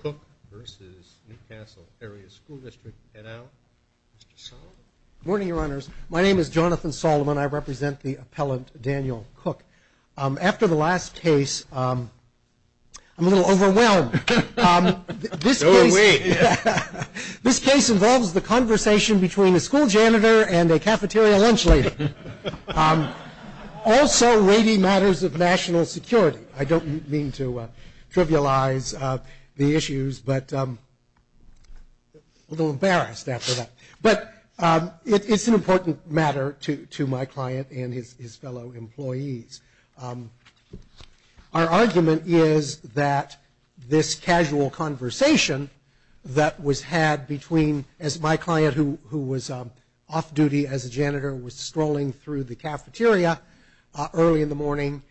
Cook versus New Castle Area School District. Head out. Mr. Solomon. Good morning, Your Honors. My name is Jonathan Solomon. I represent the appellant, Daniel Cook. After the last case, I'm a little overwhelmed. Go away. This case involves the conversation between a school janitor and a cafeteria lunch lady. Also, rady matters of national security. I don't mean to trivialize the issues, but I'm a little embarrassed after that. But it's an important matter to my client and his fellow employees. Our argument is that this casual conversation that was had between, as my client, who was off duty as a janitor, was strolling through the cafeteria early in the morning.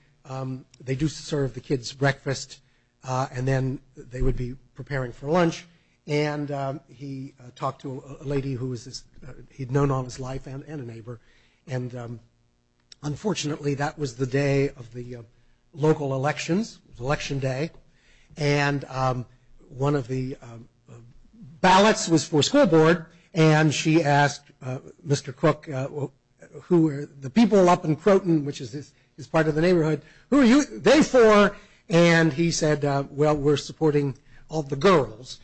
They do serve the kids breakfast, and then they would be preparing for lunch. And he talked to a lady who he'd known all his life and a neighbor. And unfortunately, that was the day of the local elections, Election Day. And one of the ballots was for school board, and she asked Mr. Cook, who were the people up in Croton, which is part of the neighborhood, who are they for? And he said, well, we're supporting all the girls,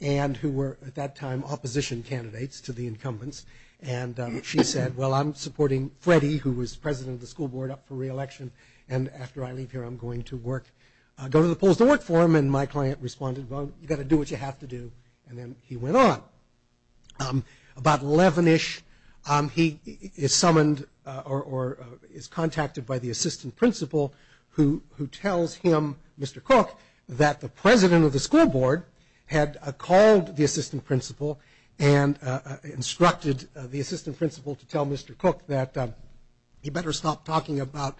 and who were at that time opposition candidates to the incumbents. And she said, well, I'm supporting Freddie, who was president of the school board up for re-election. And after I leave here, I'm going to go to the polls to work for him. And my client responded, well, you've got to do what you have to do. And then he went on. About 11-ish, he is summoned or is contacted by the assistant principal, who tells him, Mr. Cook, that the president of the school board had called the assistant principal and instructed the assistant principal to tell Mr. Cook that he better stop talking about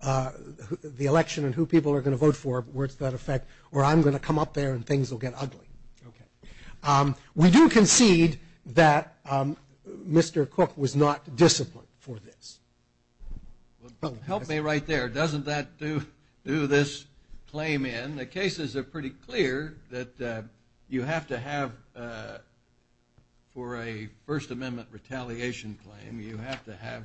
the election and who people are going to vote for, where it's going to affect, or I'm going to come up there and things will get ugly. We do concede that Mr. Cook was not disciplined for this. Help me right there. Doesn't that do this claim in? The cases are pretty clear that you have to have, for a First Amendment retaliation claim, you have to have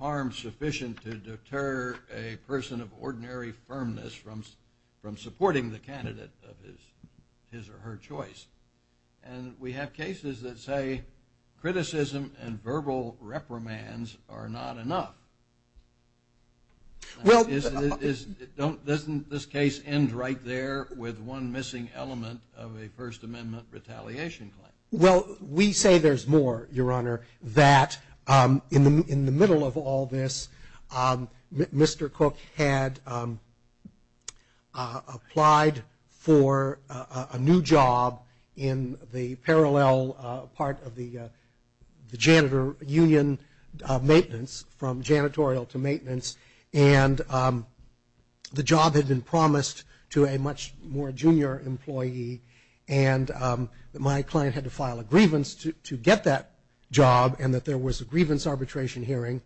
harm sufficient to deter a person of ordinary firmness from supporting the candidate of his or her choice. And we have cases that say criticism and verbal reprimands are not enough. Doesn't this case end right there with one missing element of a First Amendment retaliation claim? Well, we say there's more, Your Honor, that in the middle of all this, Mr. Cook had applied for a new job in the parallel part of the janitor union maintenance, from janitorial to maintenance, and the job had been promised to a much more junior employee and my client had to file a grievance to get that job and that there was a grievance arbitration hearing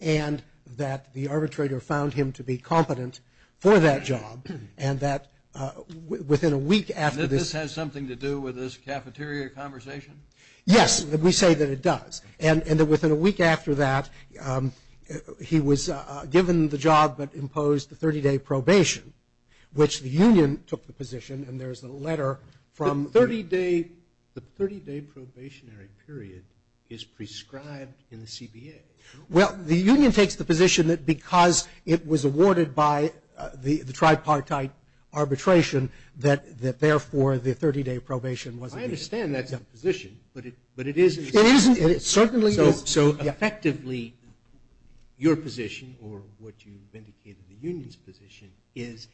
and that the arbitrator found him to be competent for that job. And that within a week after this... And that this has something to do with this cafeteria conversation? Yes, we say that it does. And that within a week after that, he was given the job but imposed the 30-day probation, which the union took the position, and there's a letter from... The 30-day probationary period is prescribed in the CBA. Well, the union takes the position that because it was awarded by the tripartite arbitration that therefore the 30-day probation wasn't needed. I understand that's the position, but it isn't. It certainly isn't. So effectively, your position, or what you vindicated the union's position, is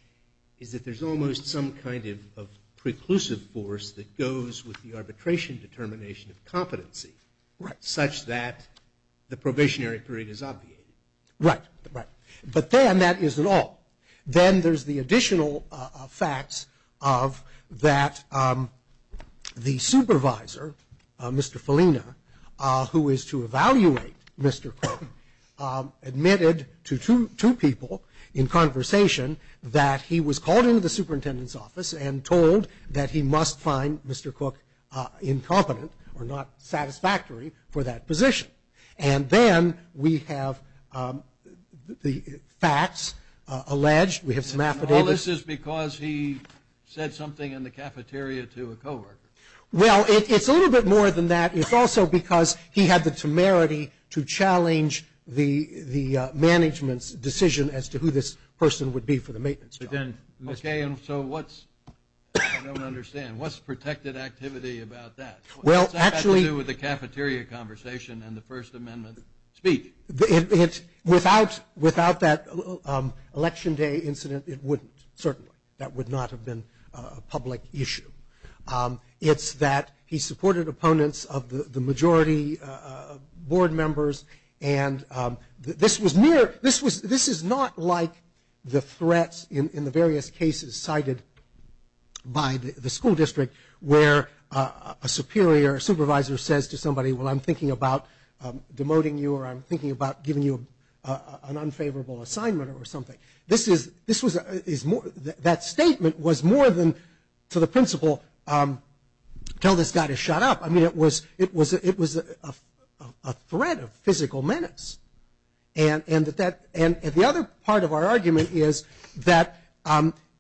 that there's almost some kind of preclusive force that goes with the arbitration determination of competency such that the probationary period is obviated. Right, right. But then that isn't all. Then there's the additional facts of that the supervisor, Mr. Felina, who is to evaluate Mr. Cook, admitted to two people in conversation that he was called into the superintendent's office and told that he must find Mr. Cook incompetent or not satisfactory for that position. And then we have the facts alleged. We have some affidavits. All this is because he said something in the cafeteria to a coworker. Well, it's a little bit more than that. It's also because he had the temerity to challenge the management's decision as to who this person would be for the maintenance job. Okay, and so what's... I don't understand. What's protected activity about that? Well, actually... What's that got to do with the cafeteria conversation and the First Amendment speech? Without that Election Day incident, it wouldn't, certainly. That would not have been a public issue. It's that he supported opponents of the majority board members, and this is not like the threats in the various cases cited by the school district where a superior, a supervisor says to somebody, well, I'm thinking about demoting you or I'm thinking about giving you an unfavorable assignment or something. That statement was more than, to the principle, tell this guy to shut up. I mean, it was a threat of physical menace. And the other part of our argument is that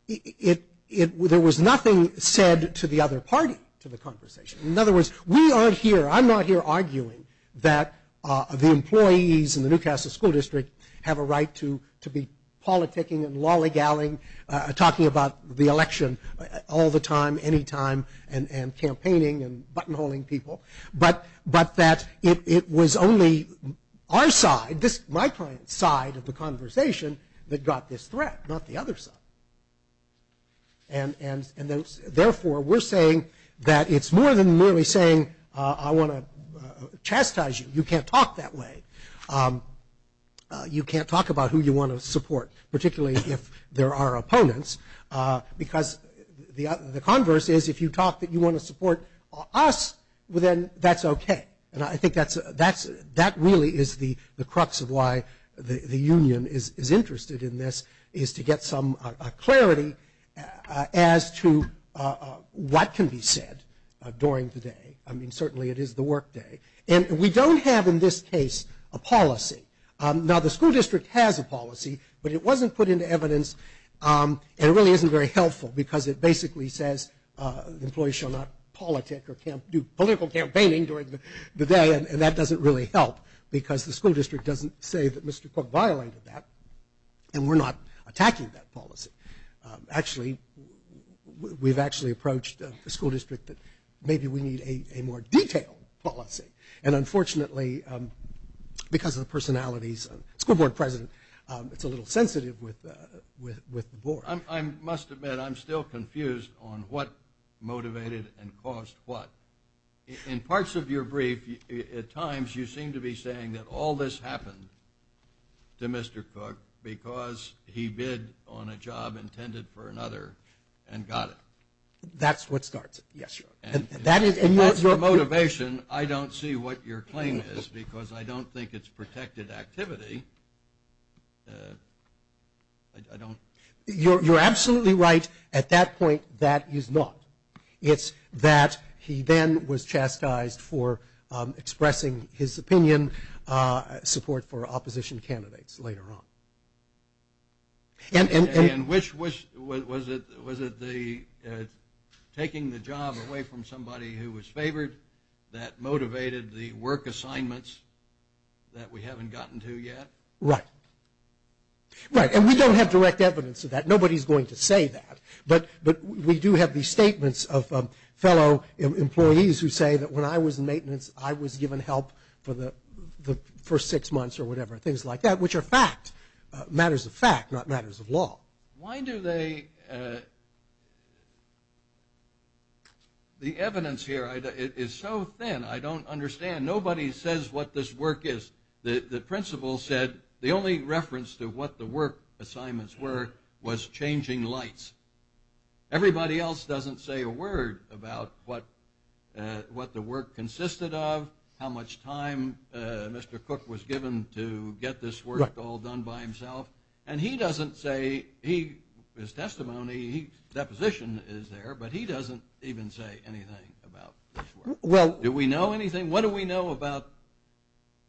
there was nothing said to the other party to the conversation. In other words, we aren't here, I'm not here arguing that the employees in the Newcastle School District have a right to be politicking and lollygalling, talking about the election all the time, anytime, and campaigning and buttonholing people, but that it was only our side, my client's side of the conversation that got this threat, not the other side. And therefore, we're saying that it's more than merely saying I want to chastise you. You can't talk that way. You can't talk about who you want to support, particularly if there are opponents, because the converse is if you talk that you want to support us, then that's okay. And I think that really is the crux of why the union is interested in this, is to get some clarity as to what can be said during the day. I mean, certainly it is the work day. And we don't have, in this case, a policy. Now, the school district has a policy, but it wasn't put into evidence, and it really isn't very helpful because it basically says employees shall not politic or do political campaigning during the day, and that doesn't really help, because the school district doesn't say that Mr. Cook violated that, and we're not attacking that policy. Actually, we've actually approached the school district that maybe we need a more detailed policy. And unfortunately, because of the personalities of the school board president, it's a little sensitive with the board. I must admit I'm still confused on what motivated and caused what. In parts of your brief, at times you seem to be saying that all this happened to Mr. Cook because he bid on a job intended for another and got it. That's what starts it, yes, Your Honor. That's the motivation. I don't see what your claim is because I don't think it's protected activity. You're absolutely right. At that point, that is not. It's that he then was chastised for expressing his opinion, support for opposition candidates later on. And which was it? Was it taking the job away from somebody who was favored, that motivated the work assignments that we haven't gotten to yet? Right. Right, and we don't have direct evidence of that. Nobody's going to say that. But we do have these statements of fellow employees who say that when I was in maintenance, I was given help for the first six months or whatever, things like that, which are fact. Matters of fact, not matters of law. Why do they? The evidence here is so thin, I don't understand. Nobody says what this work is. The principal said the only reference to what the work assignments were was changing lights. Everybody else doesn't say a word about what the work consisted of, how much time Mr. Cook was given to get this work all done by himself. And he doesn't say, his testimony, his deposition is there, but he doesn't even say anything about this work. Do we know anything? What do we know about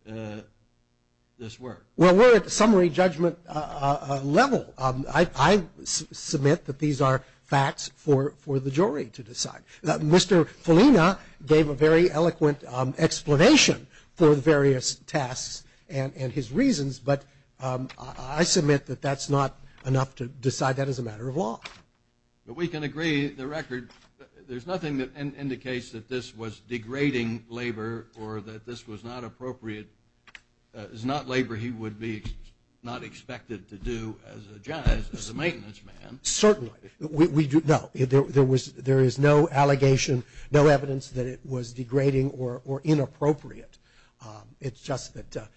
this work? Well, we're at the summary judgment level. I submit that these are facts for the jury to decide. Mr. Felina gave a very eloquent explanation for the various tasks and his reasons, but I submit that that's not enough to decide that as a matter of law. But we can agree, the record, there's nothing that indicates that this was degrading labor or that this was not appropriate. It's not labor he would be not expected to do as a maintenance man. Certainly. No, there is no allegation, no evidence that it was degrading or inappropriate. It's just that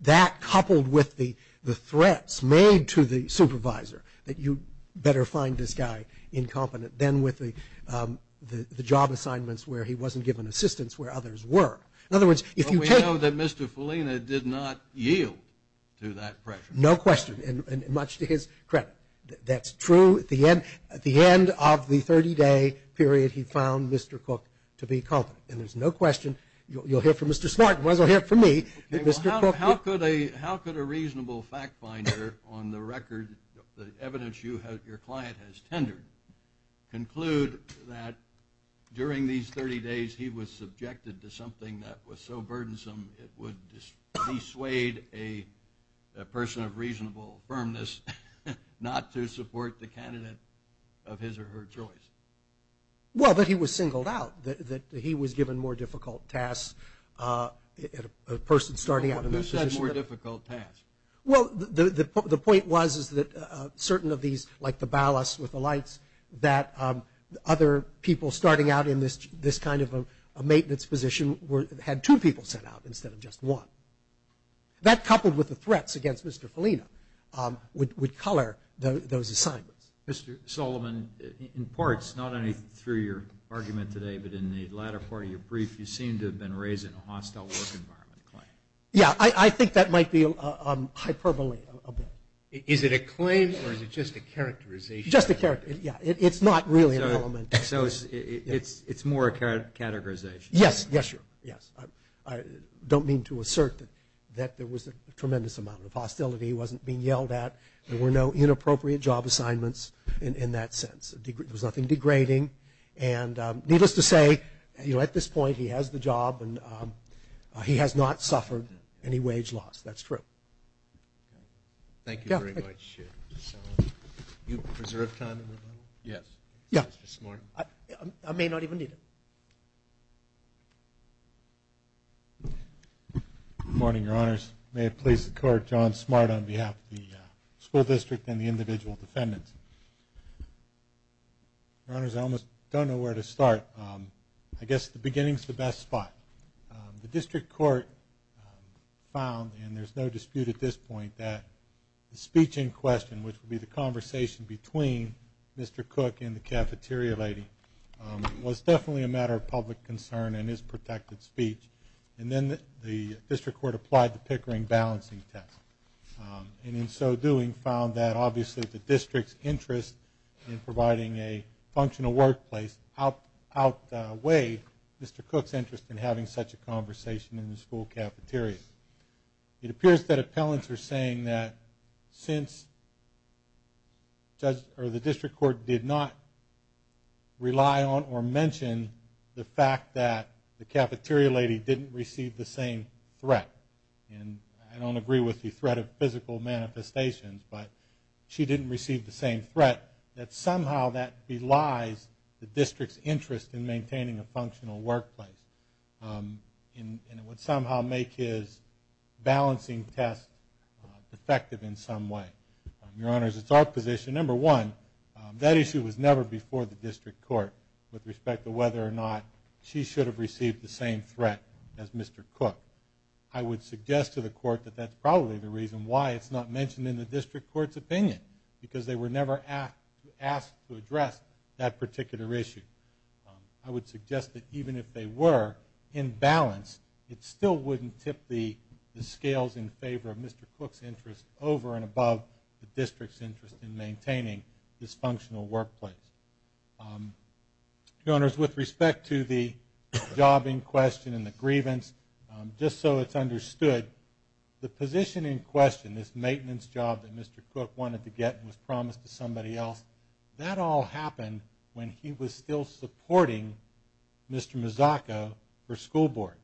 that, coupled with the threats made to the supervisor, that you better find this guy incompetent than with the job assignments where he wasn't given assistance where others were. In other words, if you take- But we know that Mr. Felina did not yield to that pressure. No question, and much to his credit. That's true. At the end of the 30-day period, he found Mr. Cook to be incompetent. And there's no question. You'll hear from Mr. Smart. You might as well hear it from me. How could a reasonable fact finder on the record, the evidence your client has tendered, conclude that during these 30 days he was subjected to something that was so burdensome it would dissuade a person of reasonable firmness not to support the candidate of his or her choice? Well, that he was singled out, that he was given more difficult tasks, a person starting out in this position- More difficult tasks. Well, the point was is that certain of these, like the ballast with the lights, that other people starting out in this kind of a maintenance position had two people sent out instead of just one. That, coupled with the threats against Mr. Felina, would color those assignments. Mr. Solomon, in parts, not only through your argument today, but in the latter part of your brief, you seem to have been raising a hostile work environment claim. Yeah, I think that might be hyperbole a bit. Is it a claim or is it just a characterization? Just a characterization. Yeah, it's not really an element. So it's more a categorization? Yes, yes, yes. I don't mean to assert that there was a tremendous amount of hostility. He wasn't being yelled at. There were no inappropriate job assignments in that sense. There was nothing degrading. And needless to say, at this point, he has the job and he has not suffered any wage loss. That's true. Thank you very much, Mr. Solomon. Do you preserve time in the room? Yes. I may not even need it. Good morning, Your Honors. May it please the Court, John Smart on behalf of the school district and the individual defendants. Your Honors, I almost don't know where to start. I guess the beginning is the best spot. The district court found, and there's no dispute at this point, that the speech in question, which would be the conversation between Mr. Cook and the cafeteria lady, was definitely a matter of public concern and is protected speech. And then the district court applied the Pickering balancing test, and in so doing found that obviously the district's interest in providing a functional workplace outweighed Mr. Cook's interest in having such a conversation in the school cafeteria. It appears that appellants are saying that since the district court did not rely on or mention the fact that the cafeteria lady didn't receive the same threat, and I don't agree with the threat of physical manifestations, but she didn't receive the same threat, that somehow that belies the district's interest in maintaining a functional workplace. And it would somehow make his balancing test effective in some way. Your Honors, it's our position, number one, that issue was never before the district court with respect to whether or not she should have received the same threat as Mr. Cook. I would suggest to the court that that's probably the reason why it's not mentioned in the district court's opinion, because they were never asked to address that particular issue. I would suggest that even if they were, in balance, it still wouldn't tip the scales in favor of Mr. Cook's interest over and above the district's interest in maintaining this functional workplace. Your Honors, with respect to the job in question and the grievance, just so it's understood, the position in question, this maintenance job that Mr. Cook wanted to get and was promised to somebody else, that all happened when he was still supporting Mr. Mazzocco for school board.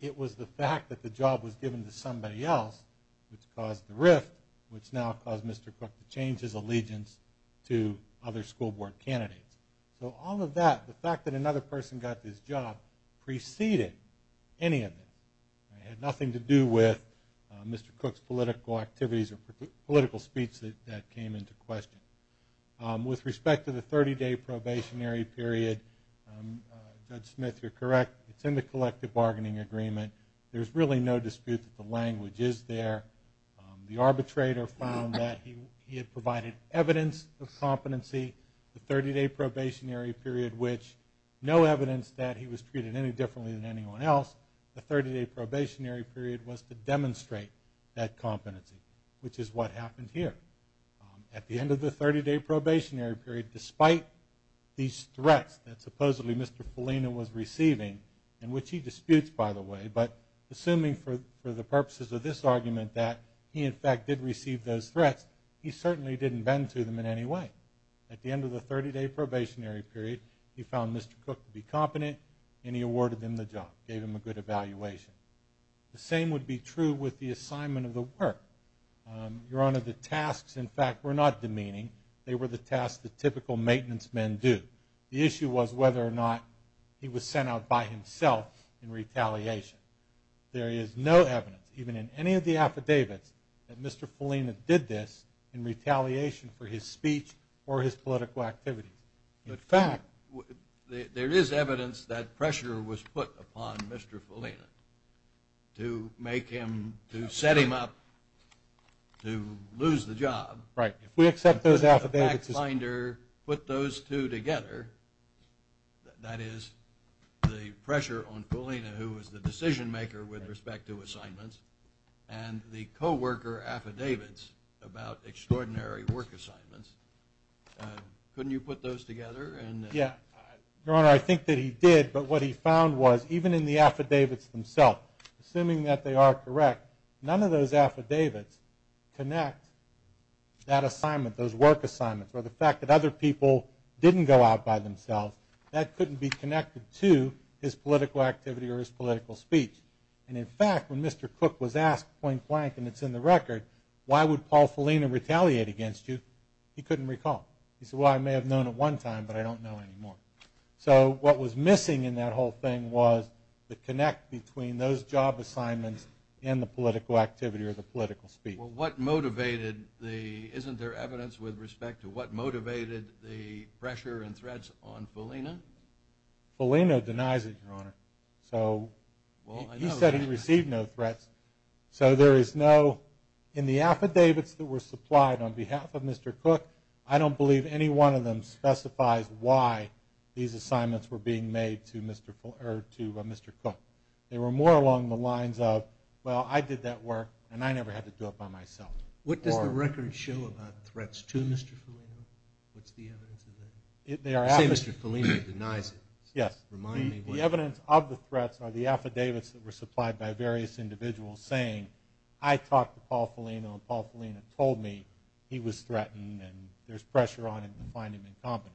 It was the fact that the job was given to somebody else which caused the rift, which now caused Mr. Cook to change his allegiance to other school board candidates. So all of that, the fact that another person got this job, preceded any of this. It had nothing to do with Mr. Cook's political activities or political speech that came into question. With respect to the 30-day probationary period, Judge Smith, you're correct. It's in the collective bargaining agreement. There's really no dispute that the language is there. The arbitrator found that he had provided evidence of competency. The 30-day probationary period, which no evidence that he was treated any differently than anyone else, the 30-day probationary period was to demonstrate that competency. Which is what happened here. At the end of the 30-day probationary period, despite these threats that supposedly Mr. Felina was receiving, and which he disputes, by the way, but assuming for the purposes of this argument that he in fact did receive those threats, he certainly didn't bend to them in any way. At the end of the 30-day probationary period, he found Mr. Cook to be competent and he awarded him the job, gave him a good evaluation. The same would be true with the assignment of the work. Your Honor, the tasks, in fact, were not demeaning. They were the tasks that typical maintenance men do. The issue was whether or not he was sent out by himself in retaliation. There is no evidence, even in any of the affidavits, that Mr. Felina did this in retaliation for his speech or his political activities. In fact, there is evidence that pressure was put upon Mr. Felina to make him, to set him up to lose the job. Right. If we accept those affidavits as... The fact finder put those two together. That is, the pressure on Felina, who was the decision-maker with respect to assignments, and the co-worker affidavits about extraordinary work assignments. Couldn't you put those together? Yeah. Your Honor, I think that he did, but what he found was, even in the affidavits themselves, assuming that they are correct, none of those affidavits connect that assignment, those work assignments, or the fact that other people didn't go out by themselves. That couldn't be connected to his political activity or his political speech. And, in fact, when Mr. Cook was asked point-blank, and it's in the record, why would Paul Felina retaliate against you, he couldn't recall. He said, well, I may have known at one time, but I don't know anymore. So, what was missing in that whole thing was the connect between those job assignments and the political activity or the political speech. Well, what motivated the... Isn't there evidence with respect to what motivated the pressure and threats on Felina? Felina denies it, Your Honor. So, he said he received no threats. So, there is no... In the affidavits that were supplied on behalf of Mr. Cook, I don't believe any one of them specifies why these assignments were being made to Mr. Cook. They were more along the lines of, well, I did that work, and I never had to do it by myself. What does the record show about threats to Mr. Felina? What's the evidence of that? You say Mr. Felina denies it. Yes. The evidence of the threats are the affidavits that were supplied by various individuals saying, I talked to Paul Felina, and Paul Felina told me he was threatened and there's pressure on him to find him incompetent.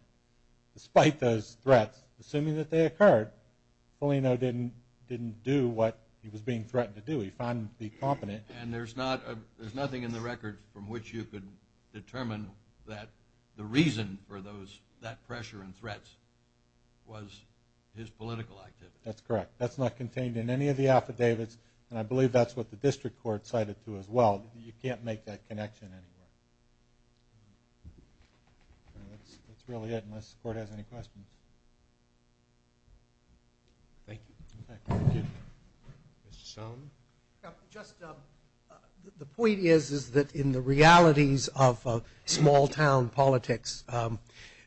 Despite those threats, assuming that they occurred, Felina didn't do what he was being threatened to do. He found him to be competent. And there's nothing in the record from which you could determine that the reason for that pressure and threats was his political activity. That's correct. That's not contained in any of the affidavits, and I believe that's what the district court cited to as well. You can't make that connection anywhere. That's really it, unless the court has any questions. Thank you. Thank you. Mr. Stone? Just the point is that in the realities of small town politics,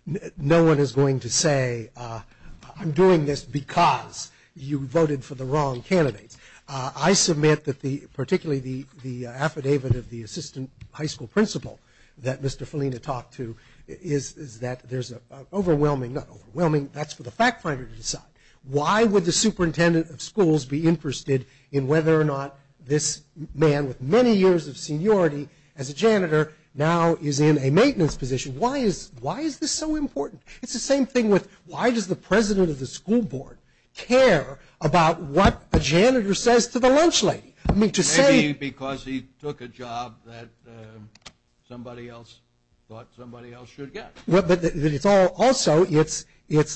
no one is going to say I'm doing this because you voted for the wrong candidates. I submit that particularly the affidavit of the assistant high school principal that Mr. Felina talked to is that there's an overwhelming, not overwhelming, why would the superintendent of schools be interested in whether or not this man with many years of seniority as a janitor now is in a maintenance position? Why is this so important? It's the same thing with why does the president of the school board care about what a janitor says to the lunch lady? Maybe because he took a job that somebody else thought somebody else should get. Also, it's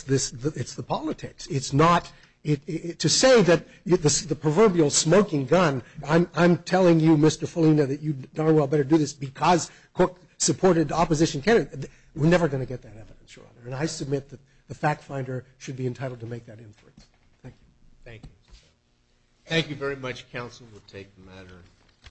the politics. To say that the proverbial smoking gun, I'm telling you, Mr. Felina, that you darn well better do this because Cook supported opposition candidates, we're never going to get that evidence. And I submit that the fact finder should be entitled to make that inference. Thank you. Thank you. Thank you very much, counsel. We'll take the matter.